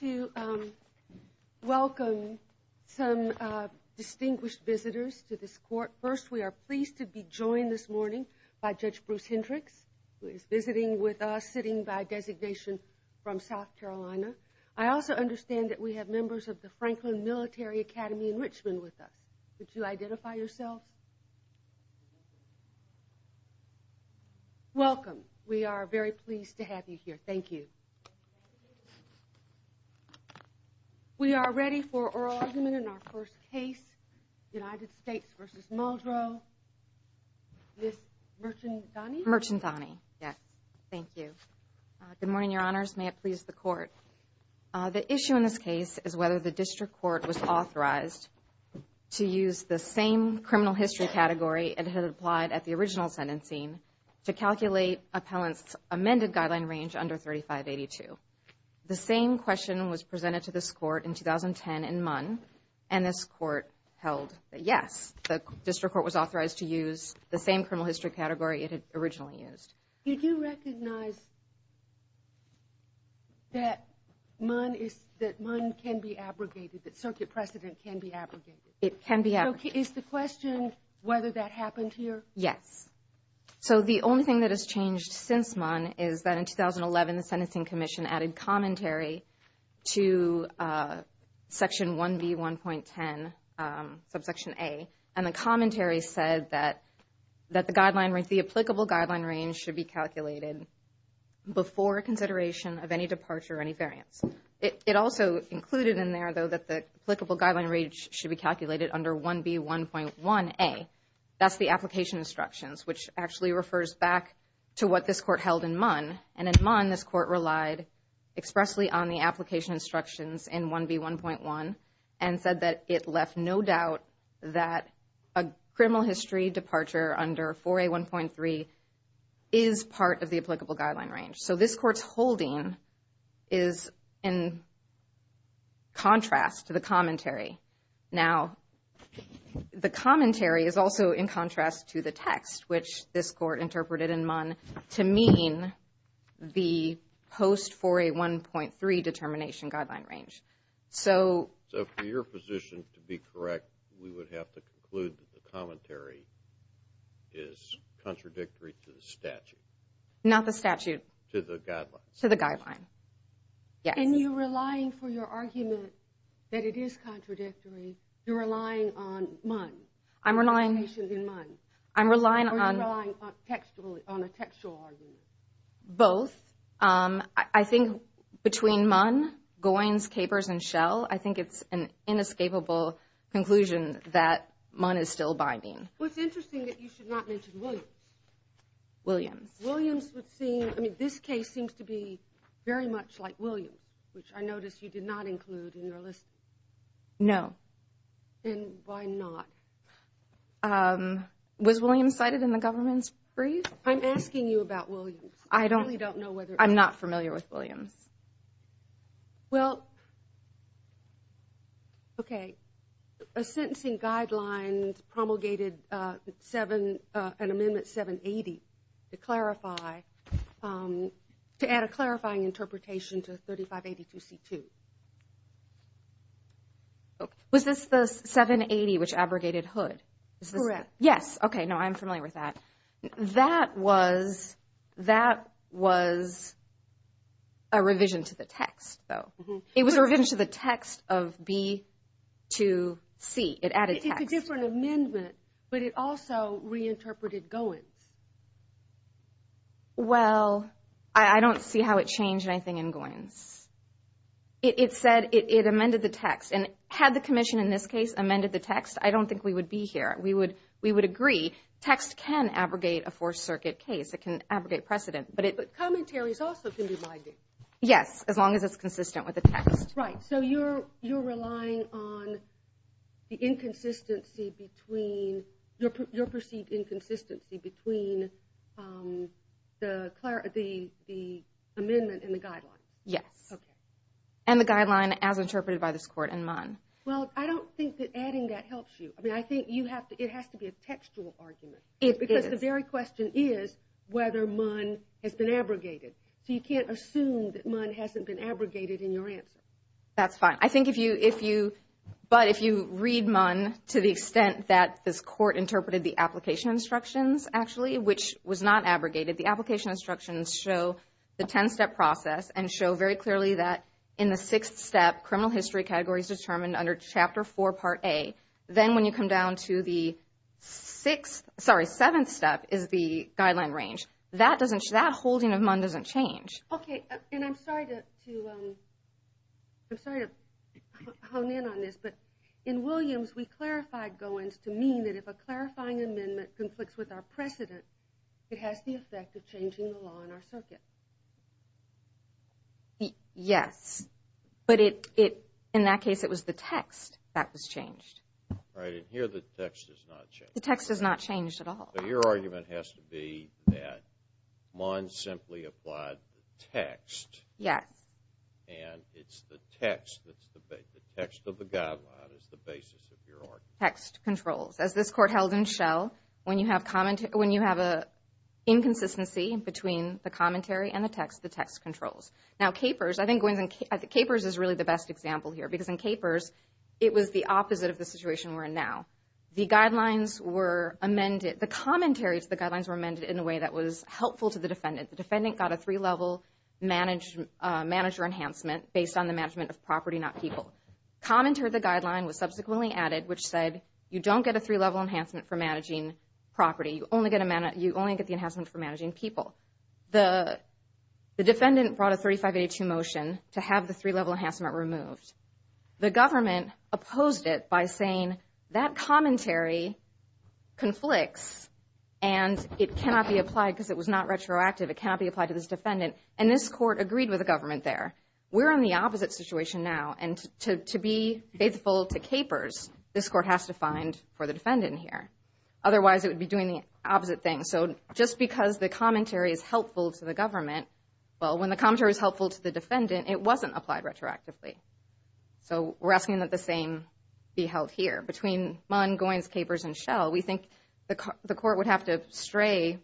to welcome some distinguished visitors to this court. First, we are pleased to be joined this morning by Judge Bruce Hendricks, who is visiting with us, sitting by designation from South Carolina. I also understand that we have members of the Franklin Military Academy in Richmond with us. Could you identify yourselves? Welcome. We are very pleased to have you here. Thank you. We are ready for oral argument in our first case, United States v. Muldrow. Ms. Merchandani? Merchandani, yes. Thank you. Good morning, Your Honors. May it please the Court. The issue in this case is whether the district court was authorized to use the same criminal history category it had applied at the original sentencing to calculate appellants' amended guideline range under 3582. The same question was presented to this court in 2010 in Munn, and this court held that, yes, the district court was authorized to use the same criminal history category it had originally used. Did you recognize that Munn can be abrogated, that circuit precedent can be abrogated? It can be abrogated. Is the question whether that happened here? Yes. So the only thing that has changed since Munn is that in 2011 the Sentencing Commission added commentary to Section 1B1.10, subsection A, and the commentary said that the applicable guideline range should be calculated before consideration of any departure or any variance. It also included in there, though, that the district court held in Munn, and in Munn this court relied expressly on the application instructions in 1B1.1 and said that it left no doubt that a criminal history departure under 4A1.3 is part of the applicable guideline range. So this court's holding is in contrast to the commentary. Now, the commentary is also in contrast to the text, which this court interpreted in Munn to mean the post-4A1.3 determination guideline range. So for your position to be correct, we would have to conclude that the commentary is contradictory to the statute. Not the statute. To the guideline. And you're relying for your argument that it is contradictory, you're relying on Munn? Or you're relying on a textual argument? Both. I think between Munn, Goins, Capers, and Schell, I think it's an inescapable conclusion that Munn is still binding. Well, it's interesting that you should not mention Williams. Williams would seem, I mean, this case seems to be very much like Williams, which I notice you did not include in your list. No. And why not? Was Williams cited in the government's brief? I'm asking you about Williams. I don't, I'm not familiar with Williams. Well, okay. A sentencing guideline promulgated an amendment 780 to clarify, to add a clarifying interpretation to 3582C2. Was this the 780 which abrogated Hood? Correct. Yes. Okay. No, I'm familiar with that. That was, that was a revision to the text, though. It was a revision to the text of B2C. It added text. It's a different amendment, but it also reinterpreted Goins. Well, I don't see how it changed anything in Goins. It said, it amended the text, and had the commission, in this case, amended the text, I don't think we would be here. We would, we would agree text can abrogate a Fourth Circuit case. It can abrogate precedent. But commentaries also can be binding. Yes, as long as it's consistent with the text. Right, so you're relying on the inconsistency between, your perceived inconsistency between the amendment and the guideline. Yes. Okay. And the guideline, as interpreted by this Court, and Munn. Well, I don't think that adding that helps you. I mean, I think you have to, it has to be a textual argument. Because the very question is whether Munn has been abrogated. So you can't assume that Munn hasn't been abrogated in your answer. That's fine. I think if you, if you, but if you read Munn to the extent that this Court interpreted the application instructions, actually, which was not abrogated, the application instructions show the 10-step process, and show very clearly that in the sixth step, criminal history category is determined under Chapter 4, Part A. Then when you come down to the sixth, sorry, seventh step, is the guideline range. That doesn't, that holding of Munn doesn't change. Okay, and I'm sorry to, I'm sorry to hone in on this, but in Williams, we clarified go-ins to mean that if a clarifying amendment conflicts with our precedent, it has the effect of changing the law in our circuit. Yes, but it, in that case, it was the text that was changed. Right, and here the text is not changed. The text is not changed at all. So your argument has to be that Munn simply applied the text. Yes. And it's the text that's the, the text of the guideline is the basis of your argument. As this court held in Shell, when you have comment, when you have a inconsistency between the commentary and the text, the text controls. Now, Capers, I think go-ins, Capers is really the best example here, because in Capers, it was the opposite of the situation we're in now. The guidelines were amended, the commentary to the guidelines were amended in a way that was helpful to the defendant. The defendant got a three-level manager enhancement based on the management of property, not people. Comment to the guideline was subsequently added, which said you don't get a three-level enhancement for managing property. You only get the enhancement for managing people. The defendant brought a 3582 motion to have the three-level enhancement removed. The government opposed it by saying that commentary conflicts, and it cannot be applied because it was not retroactive. It cannot be applied to this defendant, and this court agreed with the government there. We're in the opposite situation now, and to be faithful to Capers, this court has to find for the defendant here. Otherwise, it would be doing the opposite thing. So just because the commentary is helpful to the government, well, when the commentary is helpful to the defendant, it wasn't applied retroactively. So we're asking that the same be held here. Between Munn, Goins, Capers, and Shell, we think the court would have to stray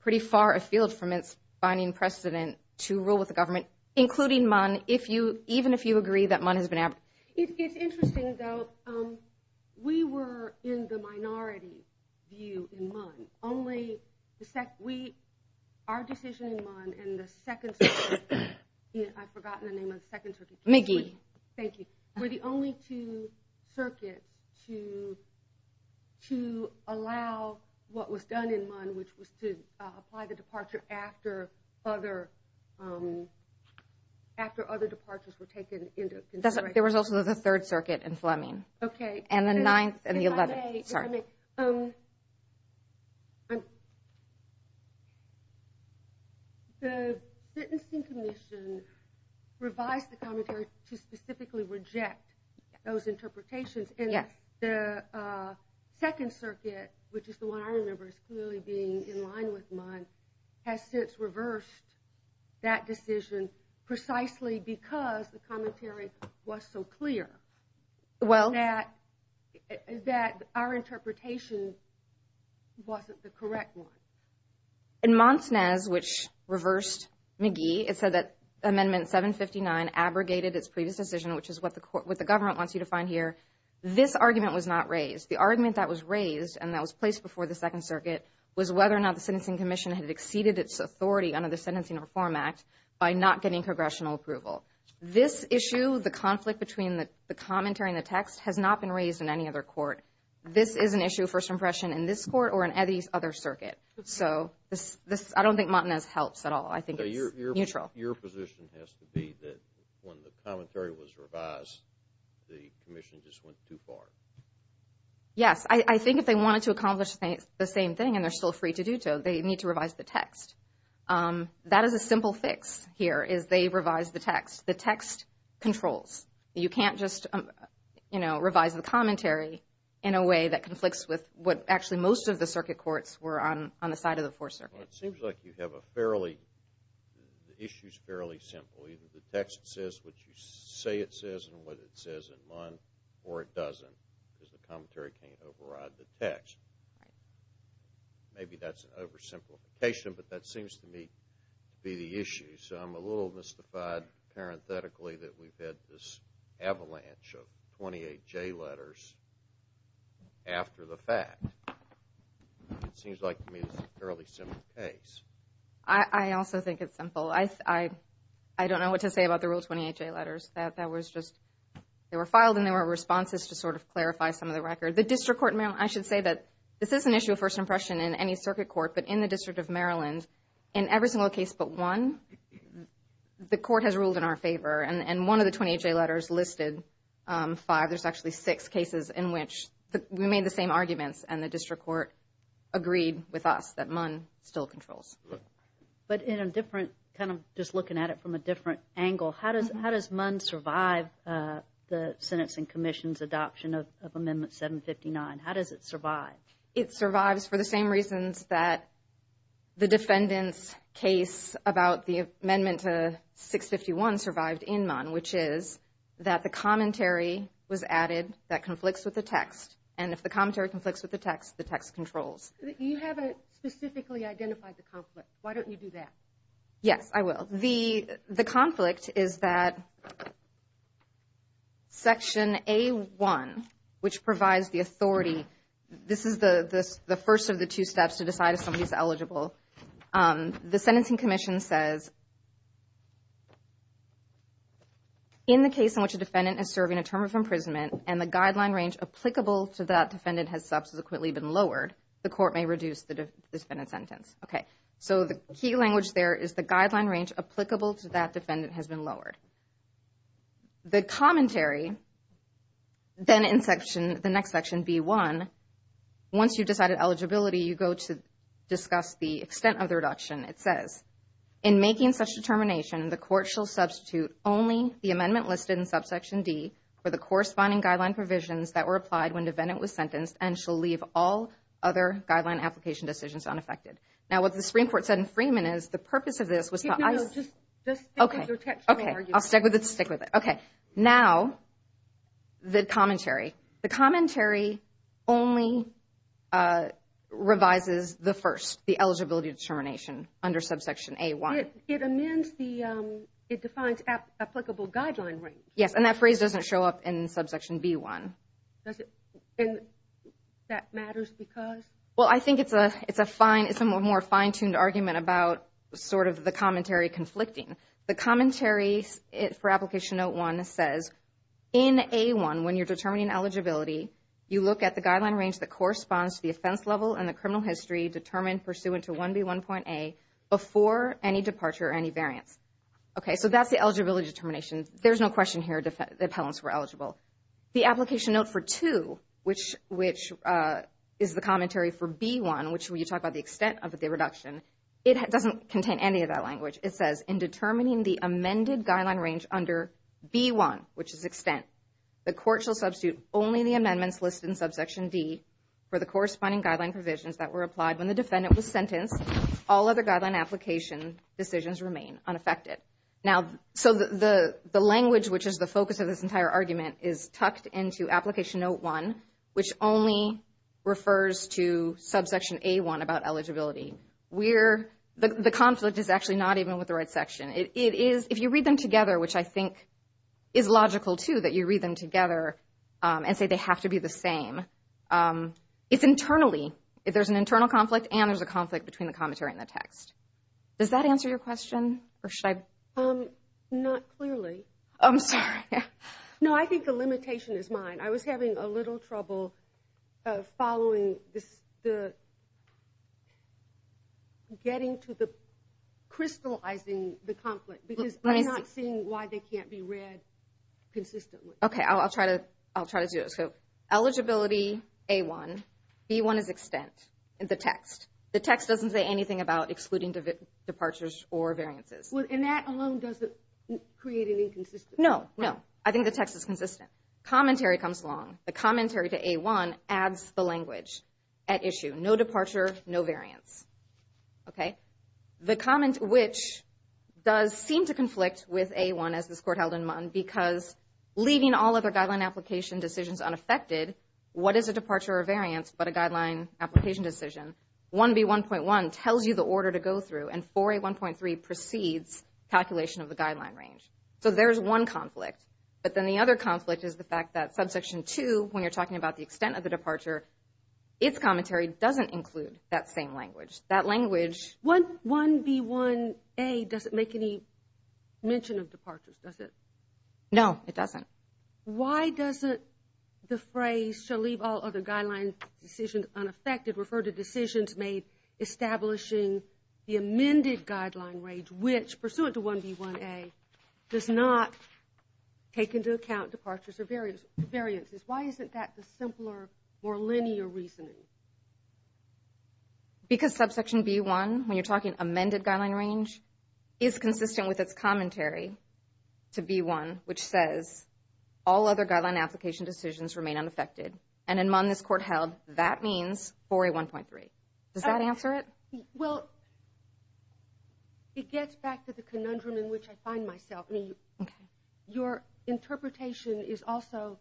pretty far afield from its binding precedent to rule with the government, including Munn, even if you agree that Munn has been abducted. It's interesting, though. We were in the minority view in Munn. Our decision in Munn and the Second Circuit – I've forgotten the name of the Second Circuit case. McGee. McGee. Thank you. We're the only two circuits to allow what was done in Munn, which was to apply the departure after other departures were taken into consideration. There was also the Third Circuit in Fleming. And the Ninth and the Eleventh. The Sentencing Commission revised the commentary to specifically reject those interpretations, and the Second Circuit, which is the one I remember as clearly being in line with Munn, has since reversed that decision precisely because the commentary was so clear that our interpretation wasn't the correct one. In Monsnez, which reversed McGee, it said that Amendment 759 abrogated its previous decision, which is what the government wants you to find here. This argument was not raised. The argument that was raised and that was placed before the Second Circuit was whether or not the Sentencing Commission had exceeded its authority under the Sentencing Reform Act by not getting congressional approval. This issue, the conflict between the commentary and the text, has not been raised in any other court. This is an issue, first impression, in this court or in any other circuit. So I don't think Monsnez helps at all. I think it's neutral. Your position has to be that when the commentary was revised, the commission just went too far. Yes. I think if they wanted to accomplish the same thing, and they're still free to do so, they need to revise the text. That is a simple fix here, is they revise the text. The text controls. You can't just, you know, revise the commentary in a way that conflicts with what actually most of the circuit courts were on the side of the Fourth Circuit. Well, it seems like you have a fairly, the issue's fairly simple. Either the text says what you say it says and what it says in Mons, or it doesn't, because the commentary can't override the text. Right. Maybe that's an oversimplification, but that seems to me to be the issue. So I'm a little mystified, parenthetically, that we've had this avalanche of 28 J letters after the fact. It seems like to me it's a fairly simple case. I also think it's simple. I don't know what to say about the real 28 J letters. That was just, they were filed and there were responses to sort of clarify some of the record. The District Court in Maryland, I should say that this is an issue of first impression in any circuit court, but in the District of Maryland, in every single case but one, the court has ruled in our favor, and one of the 28 J letters listed five, there's actually six cases in which we made the same arguments and the District Court agreed with us that Mons still controls. But in a different, kind of just looking at it from a different angle, how does Mons survive the Senate's and Commission's adoption of Amendment 759? How does it survive? It survives for the same reasons that the defendant's case about the amendment to 651 survived in Mons, which is that the commentary was added that conflicts with the text. And if the commentary conflicts with the text, the text controls. You haven't specifically identified the conflict. Why don't you do that? Yes, I will. The conflict is that Section A1, which provides the authority, this is the first of the two steps to decide if somebody's eligible. The sentencing commission says in the case in which a defendant is serving a term of imprisonment and the guideline range applicable to that defendant has subsequently been lowered, the court may reduce the defendant's sentence. Okay, so the key language there is the guideline range applicable to that defendant has been lowered. The commentary, then in the next section, B1, once you've decided eligibility, you go to discuss the extent of the reduction. It says, in making such determination, the court shall substitute only the amendment listed in subsection D for the corresponding guideline provisions that were applied when the defendant was sentenced and shall leave all other guideline application decisions unaffected. Now, what the Supreme Court said in Freeman is the purpose of this was to… Just stick with your textual argument. Okay, I'll stick with it, stick with it. Okay, now the commentary. The commentary only revises the first, the eligibility determination under subsection A1. It amends the, it defines applicable guideline range. Yes, and that phrase doesn't show up in subsection B1. And that matters because? Well, I think it's a more fine-tuned argument about sort of the commentary conflicting. The commentary for Application Note 1 says, in A1, when you're determining eligibility, you look at the guideline range that corresponds to the offense level and the criminal history determined pursuant to 1B1.A before any departure or any variance. Okay, so that's the eligibility determination. There's no question here the appellants were eligible. The Application Note for 2, which is the commentary for B1, which when you talk about the extent of the reduction, it doesn't contain any of that language. It says, in determining the amended guideline range under B1, which is extent, the court shall substitute only the amendments listed in subsection D for the corresponding guideline provisions that were applied when the defendant was sentenced. All other guideline application decisions remain unaffected. Now, so the language, which is the focus of this entire argument, is tucked into Application Note 1, which only refers to subsection A1 about eligibility. The conflict is actually not even with the right section. If you read them together, which I think is logical, too, that you read them together and say they have to be the same, it's internally. There's an internal conflict and there's a conflict between the commentary and the text. Does that answer your question, or should I? Not clearly. I'm sorry. No, I think the limitation is mine. I was having a little trouble following the getting to the crystallizing the conflict because I'm not seeing why they can't be read consistently. Okay, I'll try to do it. So eligibility A1, B1 is extent in the text. The text doesn't say anything about excluding departures or variances. And that alone doesn't create any consistency? No, no. I think the text is consistent. Commentary comes along. The commentary to A1 adds the language at issue. No departure, no variance. Okay? The comment which does seem to conflict with A1, as this Court held in Munn, because leaving all other guideline application decisions unaffected, what is a departure or variance but a guideline application decision? 1B1.1 tells you the order to go through, and 4A1.3 precedes calculation of the guideline range. So there's one conflict. But then the other conflict is the fact that subsection 2, when you're talking about the extent of the departure, its commentary doesn't include that same language. That language – 1B1A doesn't make any mention of departures, does it? No, it doesn't. Why doesn't the phrase, shall leave all other guideline decisions unaffected, refer to decisions made establishing the amended guideline range, which, pursuant to 1B1A, does not take into account departures or variances? Why isn't that the simpler, more linear reasoning? Because subsection B1, when you're talking amended guideline range, is consistent with its commentary to B1, which says all other guideline application decisions remain unaffected. And in MUN, this court held that means 4A1.3. Does that answer it? Well, it gets back to the conundrum in which I find myself. Your interpretation is also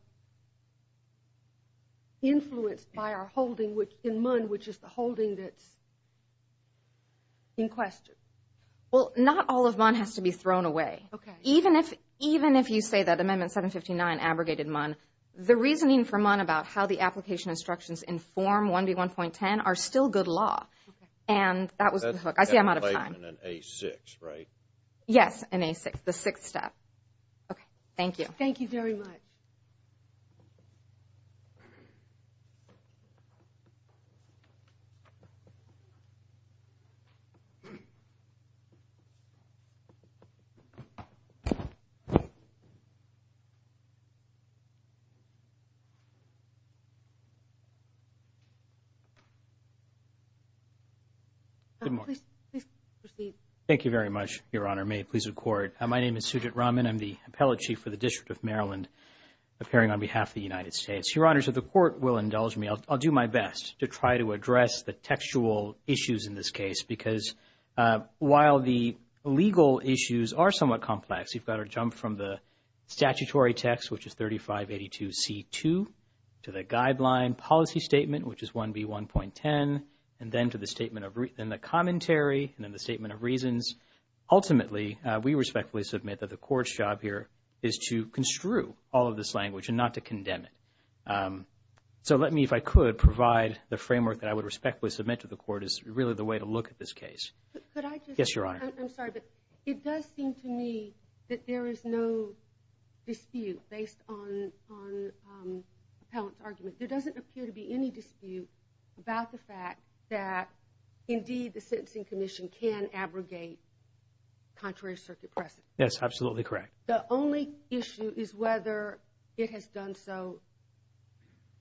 influenced by our holding in MUN, which is the holding that's in question. Well, not all of MUN has to be thrown away. Okay. Even if you say that Amendment 759 abrogated MUN, the reasoning for MUN about how the application instructions inform 1B1.10 are still good law. And that was the hook. I see I'm out of time. In A6, right? Yes, in A6, the sixth step. Okay. Thank you. Thank you very much. Please proceed. Thank you very much, Your Honor. May it please the Court. My name is Sujit Raman. I'm the Appellate Chief for the District of Maryland, appearing on behalf of the United States. Your Honor, so the Court will indulge me. I'll do my best to try to address the textual issues in this case, because while the legal issues are somewhat complex, you've got to jump from the statutory text, which is 3582C2, to the guideline policy statement, which is 1B1.10, and then to the commentary, and then the statement of reasons. Ultimately, we respectfully submit that the Court's job here is to construe all of this language and not to condemn it. So let me, if I could, provide the framework that I would respectfully submit to the Court as really the way to look at this case. Could I just say? Yes, Your Honor. I'm sorry, but it does seem to me that there is no dispute based on appellant's argument. There doesn't appear to be any dispute about the fact that, indeed, the sentencing commission can abrogate contrary circuit precedent. Yes, absolutely correct. The only issue is whether it has done so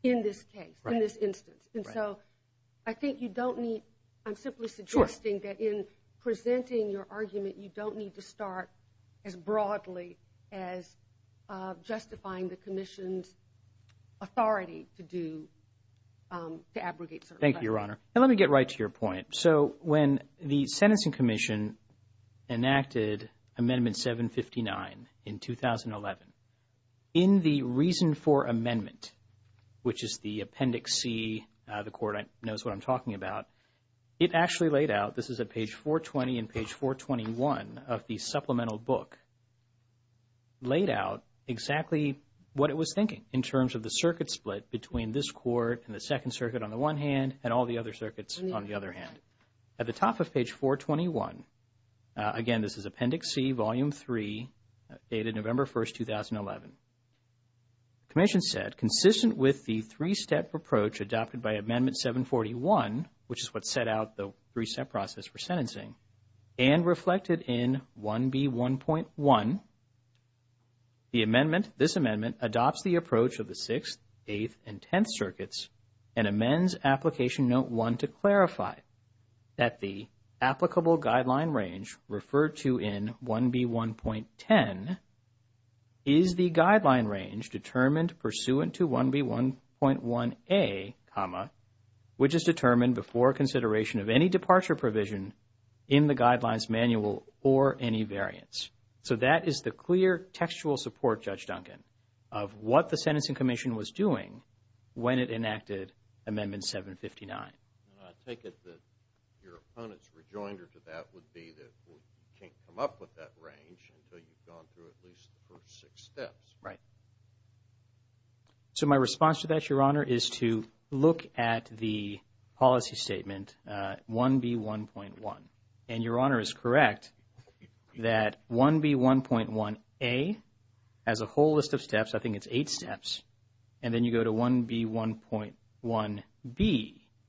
in this case, in this instance. Right. And so I think you don't need, I'm simply suggesting that in presenting your argument, you don't need to start as broadly as justifying the commission's authority to do, to abrogate certain precedent. Thank you, Your Honor. And let me get right to your point. So when the sentencing commission enacted Amendment 759 in 2011, in the reason for amendment, which is the Appendix C, the Court knows what I'm talking about, it actually laid out, this is at page 420 and page 421 of the supplemental book, laid out exactly what it was thinking in terms of the circuit split between this Court and the Second Circuit on the one hand and all the other circuits on the other hand. At the top of page 421, again, this is Appendix C, Volume 3, dated November 1, 2011. The commission said, consistent with the three-step approach adopted by Amendment 741, which is what set out the three-step process for sentencing, and reflected in 1B1.1, the amendment, this amendment, adopts the approach of the Sixth, Eighth, and Tenth Circuits and amends Application Note 1 to clarify that the applicable guideline range referred to in 1B1.10 is the guideline range determined pursuant to 1B1.1a, which is determined before consideration of any departure provision in the Guidelines Manual or any variance. So that is the clear textual support, Judge Duncan, of what the Sentencing Commission was doing when it enacted Amendment 759. And I take it that your opponent's rejoinder to that would be that you can't come up with that range until you've gone through at least the first six steps. Right. So my response to that, Your Honor, is to look at the policy statement 1B1.1. And Your Honor is correct that 1B1.1a has a whole list of steps. I think it's eight steps. And then you go to 1B1.1b.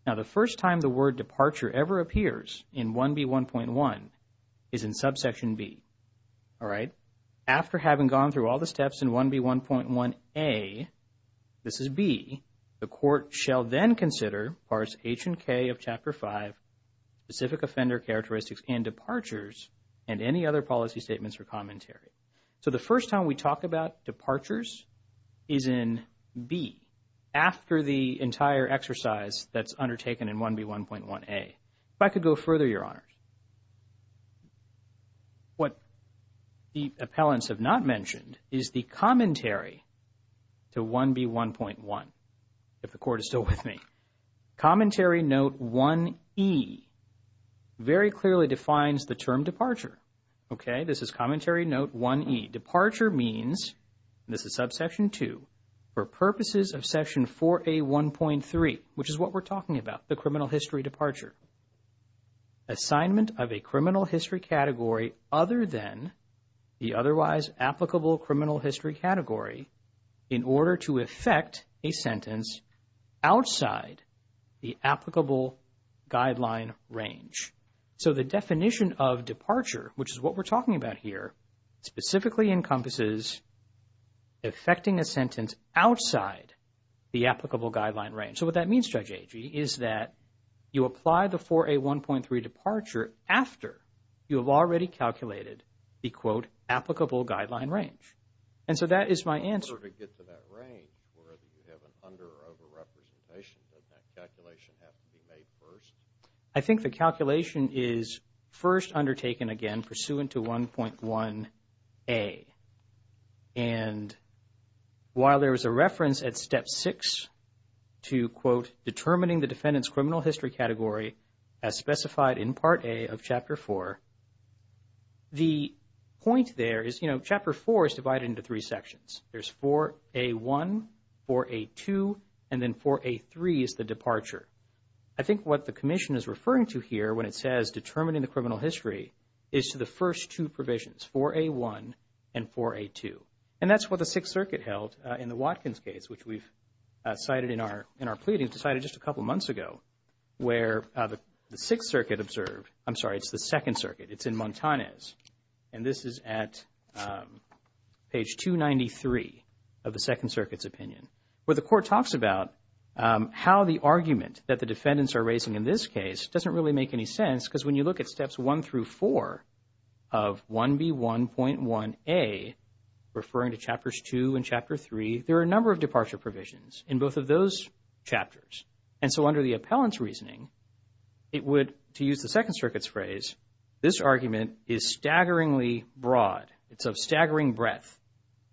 Now, the first time the word departure ever appears in 1B1.1 is in subsection b. All right. After having gone through all the steps in 1B1.1a, this is b, the court shall then consider parts H and K of Chapter 5, specific offender characteristics and departures, and any other policy statements or commentary. So the first time we talk about departures is in b, after the entire exercise that's undertaken in 1B1.1a. If I could go further, Your Honor. What the appellants have not mentioned is the commentary to 1B1.1, if the court is still with me. Commentary note 1e very clearly defines the term departure. Okay. This is commentary note 1e. Departure means, and this is subsection 2, for purposes of section 4a1.3, which is what we're talking about, the criminal history departure. Assignment of a criminal history category other than the otherwise applicable criminal history category in order to effect a sentence outside the applicable guideline range. So the definition of departure, which is what we're talking about here, specifically encompasses effecting a sentence outside the applicable guideline range. So what that means, Judge Agee, is that you apply the 4a1.3 departure after you have already calculated the, quote, applicable guideline range. And so that is my answer. In order to get to that range, whether you have an under or over representation, does that calculation have to be made first? I think the calculation is first undertaken, again, pursuant to 1.1a. And while there is a reference at Step 6 to, quote, determining the defendant's criminal history category as specified in Part A of Chapter 4, the point there is, you know, Chapter 4 is divided into three sections. There's 4a1, 4a2, and then 4a3 is the departure. I think what the Commission is referring to here when it says determining the criminal history is to the first two provisions, it's 4a1 and 4a2. And that's what the Sixth Circuit held in the Watkins case, which we've cited in our pleading, decided just a couple months ago, where the Sixth Circuit observed, I'm sorry, it's the Second Circuit, it's in Montanez, and this is at page 293 of the Second Circuit's opinion, where the Court talks about how the argument that the defendants are raising in this case doesn't really make any sense because when you look at Steps 1 through 4 of 1b1.1a, referring to Chapters 2 and Chapter 3, there are a number of departure provisions in both of those chapters. And so under the appellant's reasoning, it would, to use the Second Circuit's phrase, this argument is staggeringly broad. It's of staggering breadth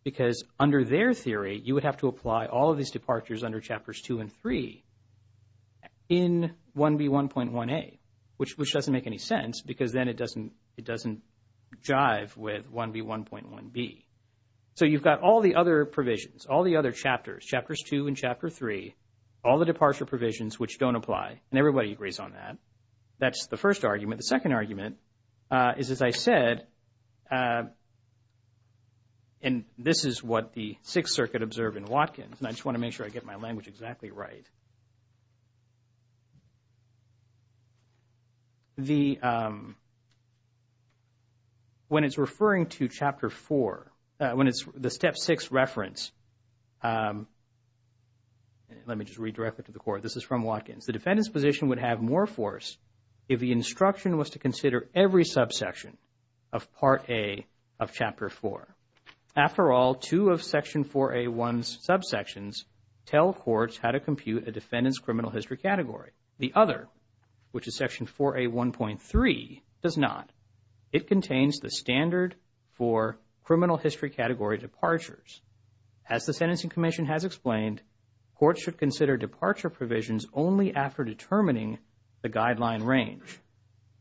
because under their theory, you would have to apply all of these departures under Chapters 2 and 3 in 1b1.1a, which doesn't make any sense because then it doesn't jive with 1b1.1b. So you've got all the other provisions, all the other chapters, Chapters 2 and Chapter 3, all the departure provisions which don't apply, and everybody agrees on that. That's the first argument. The second argument is, as I said, and this is what the Sixth Circuit observed in Watkins, and I just want to make sure I get my language exactly right. The, when it's referring to Chapter 4, when it's the Step 6 reference, let me just read directly to the Court. This is from Watkins. The defendant's position would have more force if the instruction was to consider every subsection of Part A of Chapter 4. After all, two of Section 4a1's subsections tell courts how to compute the defendant's criminal history category. The other, which is Section 4a1.3, does not. It contains the standard for criminal history category departures. As the Sentencing Commission has explained, courts should consider departure provisions only after determining the guideline range.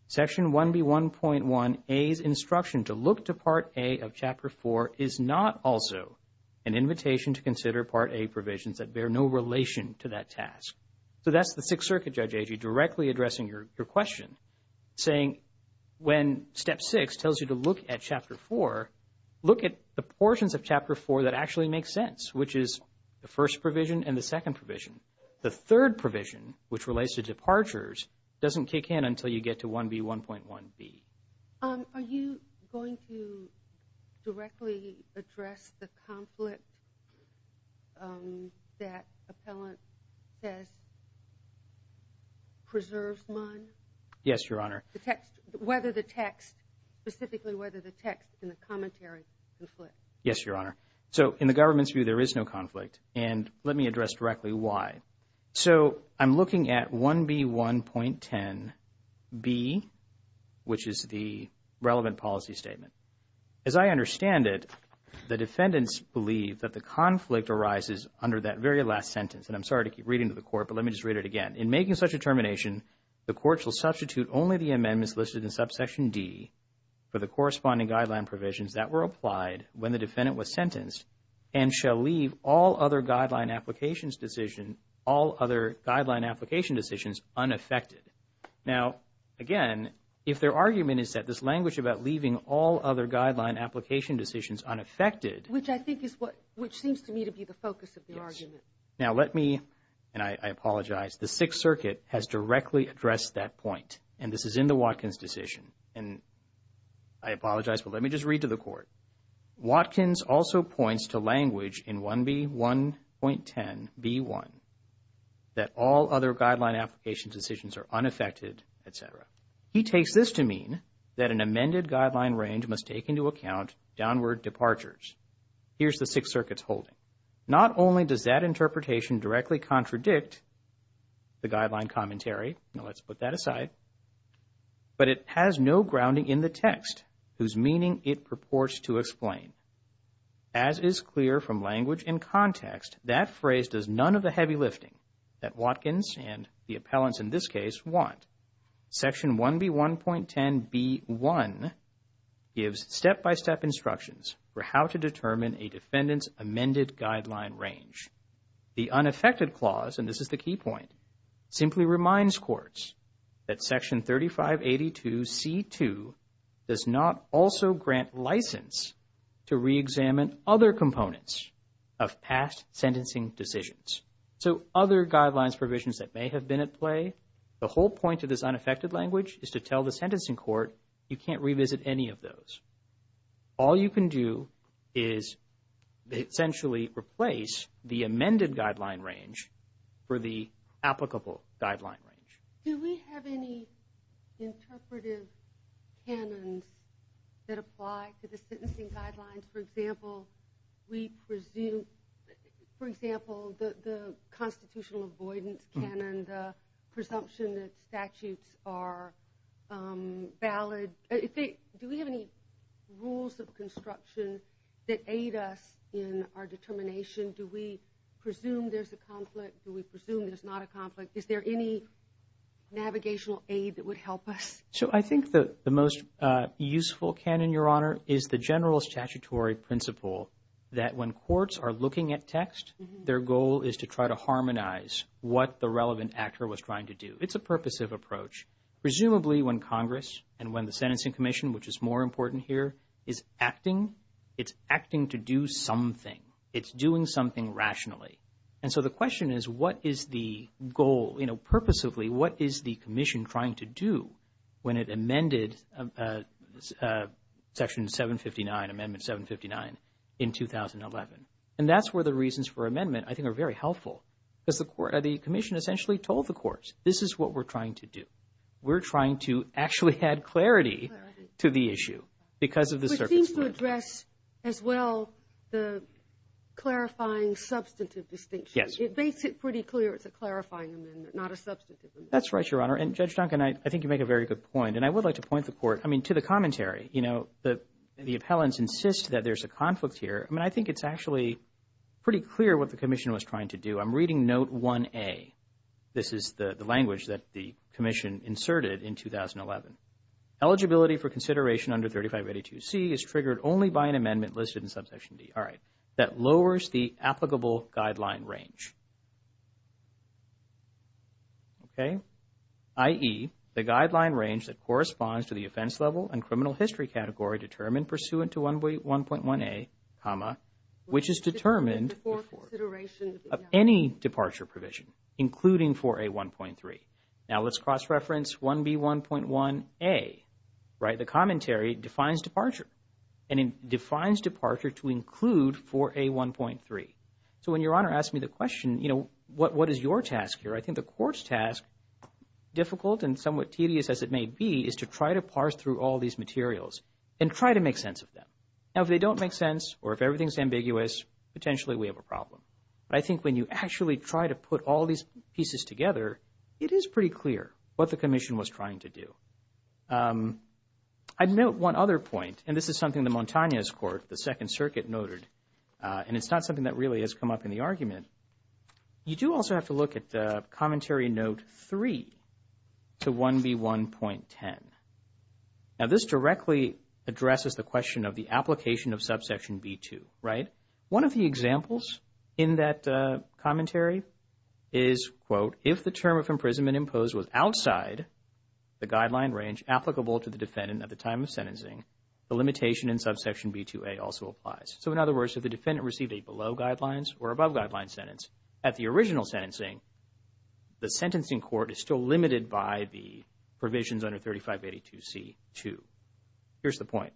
Section 1b1.1a's instruction to look to Part A of Chapter 4 is not also an invitation to consider Part A provisions that bear no relation to that task. So that's the Sixth Circuit judge directly addressing your question, saying when Step 6 tells you to look at Chapter 4, look at the portions of Chapter 4 that actually make sense, which is the first provision and the second provision. The third provision, which relates to departures, doesn't kick in until you get to 1b1.1b. Are you going to directly address the conflict that appellant says preserves mine? Yes, Your Honor. The text, whether the text, specifically whether the text in the commentary conflicts. Yes, Your Honor. So in the government's view, there is no conflict. And let me address directly why. So I'm looking at 1b1.10b, which is the relevant policy statement. As I understand it, the defendants believe that the conflict arises under that very last sentence. And I'm sorry to keep reading to the court, but let me just read it again. In making such a determination, the court shall substitute only the amendments listed in subsection D for the corresponding guideline provisions that were applied when the defendant was sentenced and shall leave all other guideline application decisions unaffected. Now, again, if their argument is that this language about leaving all other guideline application decisions unaffected. Which I think is what, which seems to me to be the focus of the argument. Yes. Now let me, and I apologize, the Sixth Circuit has directly addressed that point. And this is in the Watkins decision. And I apologize, but let me just read to the court. Watkins also points to language in 1b1.10b1 that all other guideline application decisions are unaffected, etc. He takes this to mean that an amended guideline range must take into account downward departures. Here's the Sixth Circuit's holding. Not only does that interpretation directly contradict the guideline commentary, now let's put that aside, but it has no grounding in the text whose meaning it purports to explain. As is clear from language and context, that phrase does none of the heavy lifting that Watkins and the appellants in this case want. Section 1b1.10b1 gives step-by-step instructions for how to determine a defendant's amended guideline range. The unaffected clause, and this is the key point, simply reminds courts that Section 3582c2 does not also grant license to re-examine other components of past sentencing decisions. So other guidelines provisions that may have been at play, the whole point of this unaffected language is to tell the sentencing court you can't revisit any of those. All you can do is essentially replace the amended guideline range for the applicable guideline range. Do we have any interpretive canons that apply to the sentencing guidelines? For example, we presume... For example, the constitutional avoidance canon, the presumption that statutes are valid. Do we have any rules of construction that aid us in our determination? Do we presume there's a conflict? Do we presume there's not a conflict? Is there any navigational aid that would help us? So I think the most useful canon, Your Honor, is the general statutory principle that when courts are looking at text, their goal is to try to harmonize what the relevant actor was trying to do. It's a purposive approach. Presumably when Congress and when the Sentencing Commission, which is more important here, is acting, it's acting to do something. It's doing something rationally. And so the question is, what is the goal? You know, purposively, what is the Commission trying to do when it amended Section 759, Amendment 759, in 2011? And that's where the reasons for amendment, I think, are very helpful. Because the Commission essentially told the courts, this is what we're trying to do. We're trying to actually add clarity to the issue because of the circumstances. But it seems to address as well the clarifying substantive distinction. Yes. It makes it pretty clear it's a clarifying amendment, not a substantive amendment. That's right, Your Honor. And Judge Duncan, I think you make a very good point. And I would like to point the Court, I mean, to the commentary. You know, the appellants insist that there's a conflict here. I mean, I think it's actually pretty clear what the Commission was trying to do. I'm reading Note 1A. This is the language that the Commission inserted in 2011. Eligibility for consideration under 3582C is triggered only by an amendment listed in Subsection D. All right. That lowers the applicable guideline range. Okay. I.e., the guideline range that corresponds to the offense level and criminal history category determined pursuant to 1.1A, which is determined before any departure provision, including 4A1.3. Now, let's cross-reference 1B1.1A, right? The commentary defines departure, and it defines departure to include 4A1.3. So when Your Honor asked me the question, you know, what is your task here, I think the Court's task, difficult and somewhat tedious as it may be, is to try to parse through all these materials and try to make sense of them. Now, if they don't make sense or if everything's ambiguous, potentially we have a problem. But I think when you actually try to put all these pieces together, it is pretty clear what the Commission was trying to do. I'd note one other point, and this is something the Montañez Court, the Second Circuit, noted, and it's not something that really has come up in the argument. You do also have to look at Commentary Note 3 to 1B1.10. Now, this directly addresses the question of the application of Subsection B2, right? One of the examples in that commentary is, quote, if the term of imprisonment imposed was outside the guideline range applicable to the defendant at the time of sentencing, the limitation in Subsection B2a also applies. So in other words, if the defendant received a below-guidelines or above-guidelines sentence at the original sentencing, the sentencing court is still limited by the provisions under 3582C2. Here's the point.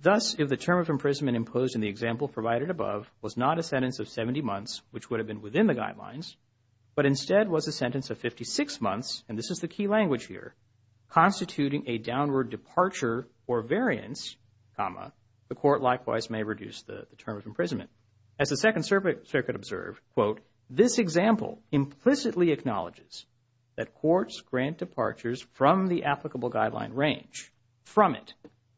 Thus, if the term of imprisonment imposed in the example provided above was not a sentence of 70 months, which would have been within the guidelines, but instead was a sentence of 56 months, and this is the key language here, constituting a downward departure or variance, the court likewise may reduce the term of imprisonment. As the Second Circuit observed, quote, this example implicitly acknowledges that courts grant departures from the applicable guideline range, from it,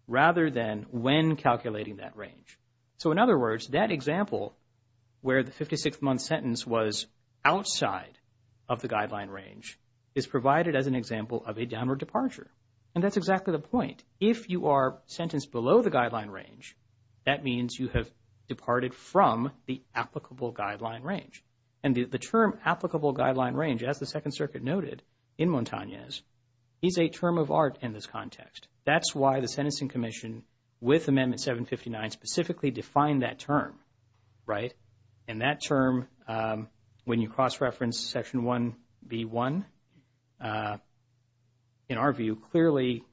rather than when calculating that range. So in other words, that example, where the 56-month sentence was outside of the guideline range, is provided as an example of a downward departure. And that's exactly the point. If you are sentenced below the guideline range, that means you have departed from the applicable guideline range. And the term applicable guideline range, as the Second Circuit noted in Montañez, is a term of art in this context. That's why the Sentencing Commission, with Amendment 759, specifically defined that term, right? And that term, when you cross-reference Section 1B1, in our view, clearly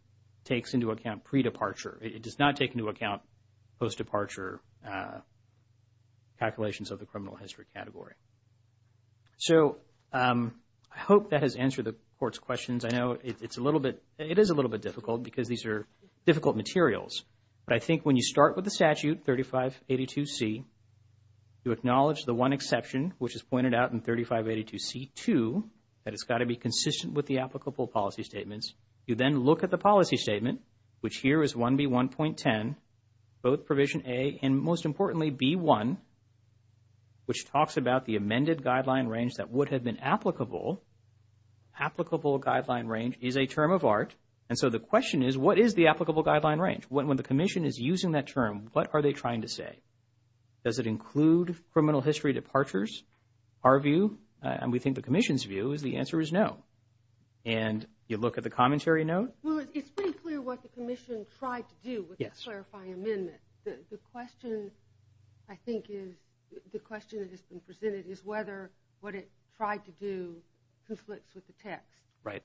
takes into account pre-departure. It does not take into account post-departure calculations of the criminal history category. So I hope that has answered the court's questions. I know it's a little bit, it is a little bit difficult because these are difficult materials. But I think when you start with the statute, 3582C, you acknowledge the one exception, which is pointed out in 3582C2, that it's got to be consistent with the applicable policy statements. You then look at the policy statement, which here is 1B1.10, both Provision A and, most importantly, B1, which talks about the amended guideline range that would have been applicable. Applicable guideline range is a term of art. And so the question is, what is the applicable guideline range? When the Commission is using that term, what are they trying to say? Does it include criminal history departures? Our view, and we think the Commission's view, is the answer is no. And you look at the commentary note. Well, it's pretty clear what the Commission tried to do with the clarifying amendment. The question, I think, is, the question that has been presented is whether what it tried to do conflicts with the text. Right.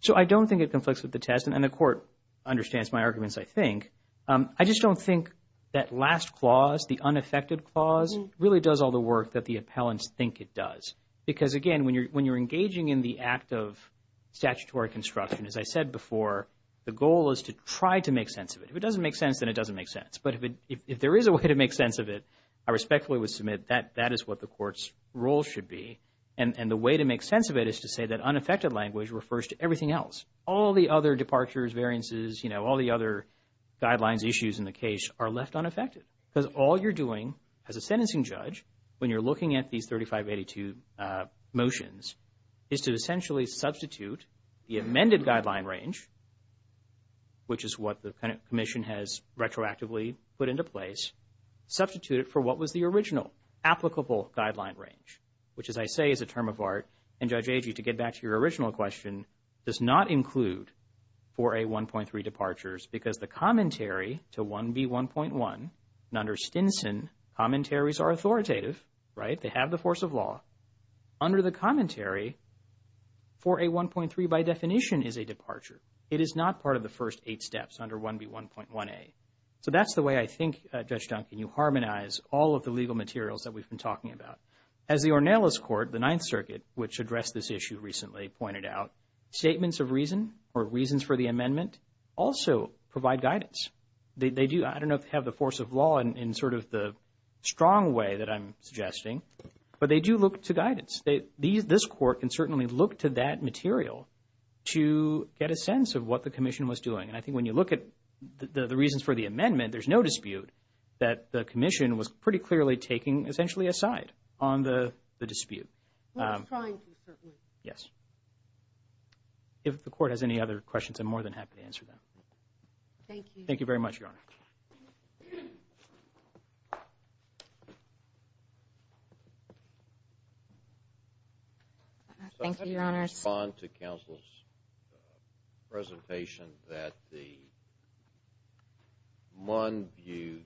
So I don't think it conflicts with the text, and the Court understands my arguments, I think. I just don't think that last clause, the unaffected clause, really does all the work that the appellants think it does. Because, again, when you're engaging in the act of statutory construction, as I said before, the goal is to try to make sense of it. If it doesn't make sense, then it doesn't make sense. But if there is a way to make sense of it, I respectfully would submit that that is what the Court's role should be. And the way to make sense of it is to say that unaffected language refers to everything else. All the other departures, variances, you know, all the other guidelines, issues in the case are left unaffected. Because all you're doing as a sentencing judge, when you're looking at these 3582 motions, is to essentially substitute the amended guideline range, which is what the Commission has retroactively put into place, substitute it for what was the original applicable guideline range, which, as I say, is a term of art. And, Judge Agee, to get back to your original question, does not include 4A1.3 departures because the commentary to 1B1.1, and under Stinson commentaries are authoritative, right? They have the force of law. Under the commentary, 4A1.3 by definition is a departure. It is not part of the first eight steps under 1B1.1a. So that's the way I think, Judge Duncan, you harmonize all of the legal materials that we've been talking about. As the Ornelas Court, the Ninth Circuit, which addressed this issue recently, pointed out, statements of reason or reasons for the amendment also provide guidance. They do, I don't know if they have the force of law in sort of the strong way that I'm suggesting, but they do look to guidance. This Court can certainly look to that material to get a sense of what the Commission was doing. And I think when you look at the reasons for the amendment, there's no dispute that the Commission was pretty clearly taking essentially a side on the dispute. We were trying to, certainly. Yes. If the Court has any other questions, I'm more than happy to answer them. Thank you. Thank you very much, Your Honor. Thank you, Your Honors. I respond to counsel's presentation that the one view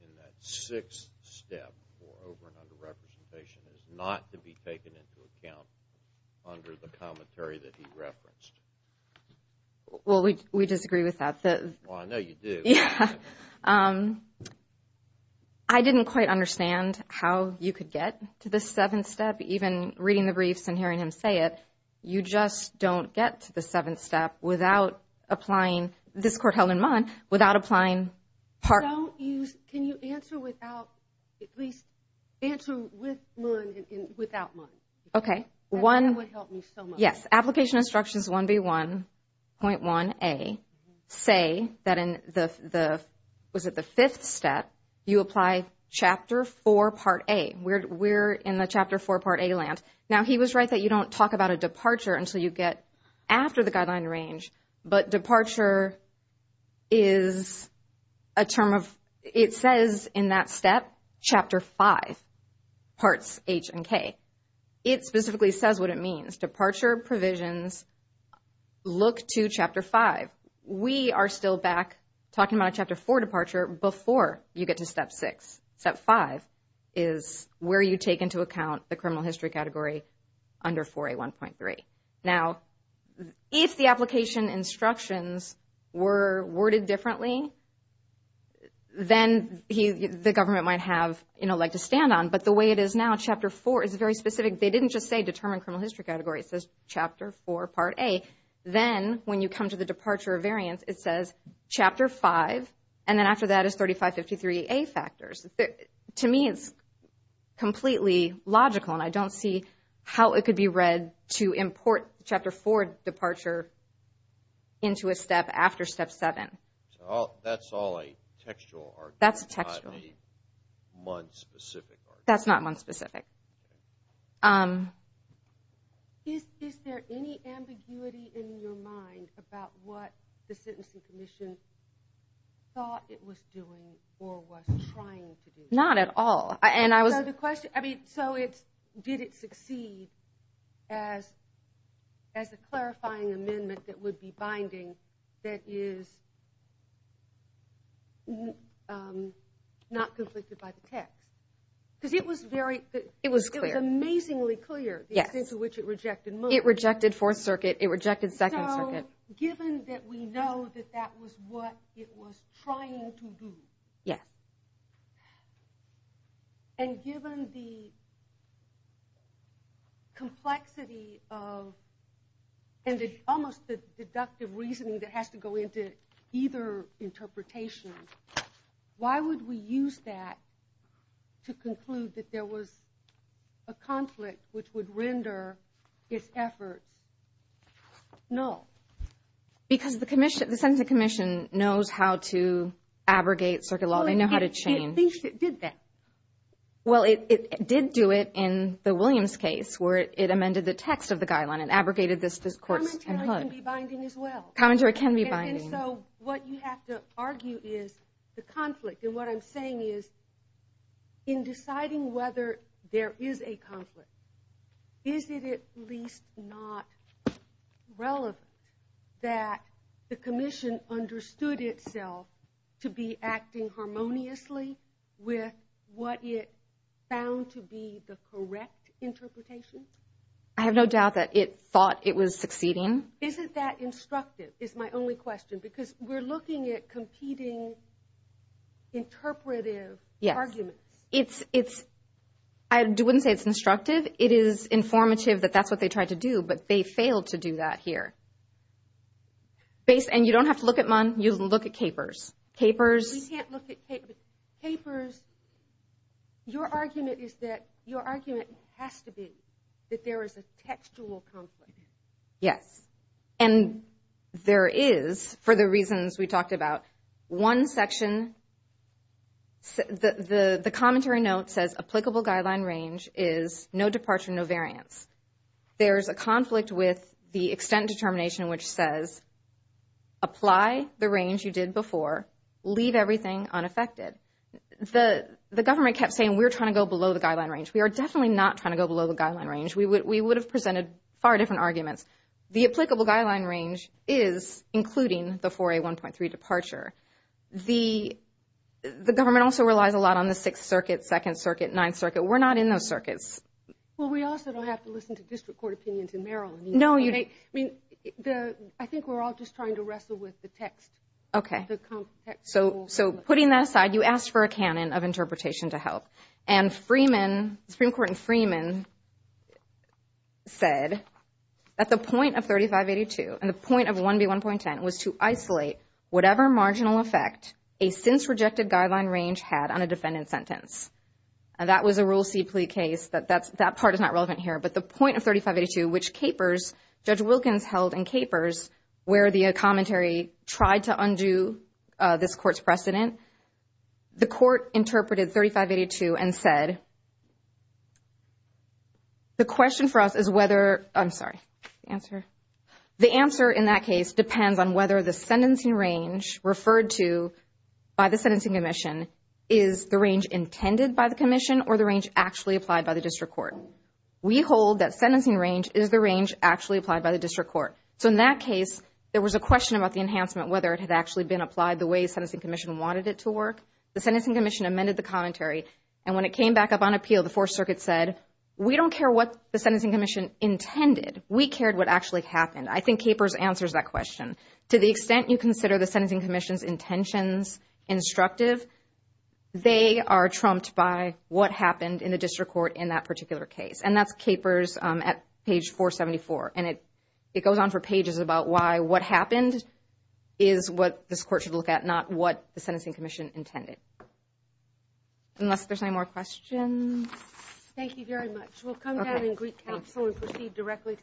in that sixth step for over and under representation is not to be taken into account under the commentary that he referenced. Well, we disagree with that. Well, I know you do. Yeah. I didn't quite understand how you could get to the seventh step, even reading the briefs and hearing him say it. You just don't get to the seventh step without applying, this Court held in Munn, without applying part. Can you answer without, at least answer with Munn and without Munn? Okay. That would help me so much. Yes. Application Instructions 1B1.1a say that in the, was it the fifth step, you apply Chapter 4, Part A. We're in the Chapter 4, Part A land. Now, he was right that you don't talk about a departure until you get after the guideline range. But departure is a term of, it says in that step, Chapter 5, Parts H and K. It specifically says what it means. Departure provisions look to Chapter 5. We are still back talking about a Chapter 4 departure before you get to Step 6. Step 5 is where you take into account the criminal history category under 4A1.3. Now, if the application instructions were worded differently, then the government might have, you know, like to stand on. But the way it is now, Chapter 4 is very specific. They didn't just say determine criminal history category. It says Chapter 4, Part A. Then when you come to the departure of variance, it says Chapter 5, and then after that is 3553A factors. To me, it's completely logical, and I don't see how it could be read to import Chapter 4 departure into a step after Step 7. So that's all a textual argument, not a month-specific argument? That's textual. That's not month-specific. Is there any ambiguity in your mind about what the Sentencing Commission thought it was doing or was trying to do? Not at all. So did it succeed as a clarifying amendment that would be binding that is not conflicted by the text? Because it was amazingly clear the extent to which it rejected month. It rejected Fourth Circuit. It rejected Second Circuit. So given that we know that that was what it was trying to do, and given the complexity of, and almost the deductive reasoning that has to go into either interpretation, why would we use that to conclude that there was a conflict which would render its efforts null? Because the Sentencing Commission knows how to abrogate circuit law. They know how to chain. Well, at least it did that. Well, it did do it in the Williams case where it amended the text of the guideline and abrogated this discourse. Commentary can be binding as well. Commentary can be binding. And so what you have to argue is the conflict. And what I'm saying is in deciding whether there is a conflict, is it at least not relevant that the commission understood itself to be acting harmoniously with what it found to be the correct interpretation? I have no doubt that it thought it was succeeding. Isn't that instructive is my only question because we're looking at competing interpretive arguments. I wouldn't say it's instructive. It is informative that that's what they tried to do, but they failed to do that here. And you don't have to look at Munn. You can look at Capers. We can't look at Capers. Your argument is that your argument has to be that there is a textual conflict. Yes. And there is for the reasons we talked about. One section, the commentary note says applicable guideline range is no departure, no variance. There is a conflict with the extent determination which says apply the range you did before, leave everything unaffected. The government kept saying we're trying to go below the guideline range. We are definitely not trying to go below the guideline range. We would have presented far different arguments. The applicable guideline range is including the 4A1.3 departure. The government also relies a lot on the Sixth Circuit, Second Circuit, Ninth Circuit. We're not in those circuits. Well, we also don't have to listen to district court opinions in Maryland. No. I think we're all just trying to wrestle with the text. Okay. So putting that aside, you asked for a canon of interpretation to help. And the Supreme Court in Freeman said that the point of 3582 and the point of 1B1.10 was to isolate whatever marginal effect a since-rejected guideline range had on a defendant's sentence. That was a Rule C plea case. That part is not relevant here. But the point of 3582, which Capers, Judge Wilkins held in Capers, where the commentary tried to undo this court's precedent, the court interpreted 3582 and said, the question for us is whether, I'm sorry, the answer. The answer in that case depends on whether the sentencing range referred to by the sentencing commission is the range intended by the commission or the range actually applied by the district court. We hold that sentencing range is the range actually applied by the district court. So in that case, there was a question about the enhancement, whether it had actually been applied the way the sentencing commission wanted it to work. The sentencing commission amended the commentary. And when it came back up on appeal, the Fourth Circuit said, we don't care what the sentencing commission intended. We cared what actually happened. I think Capers answers that question. To the extent you consider the sentencing commission's intentions instructive, they are trumped by what happened in the district court in that particular case. And that's Capers at page 474. And it goes on for pages about why what happened is what this court should look at, not what the sentencing commission intended. Unless there's any more questions. Thank you very much. We'll come down in Greek capsule and proceed directly to the next case.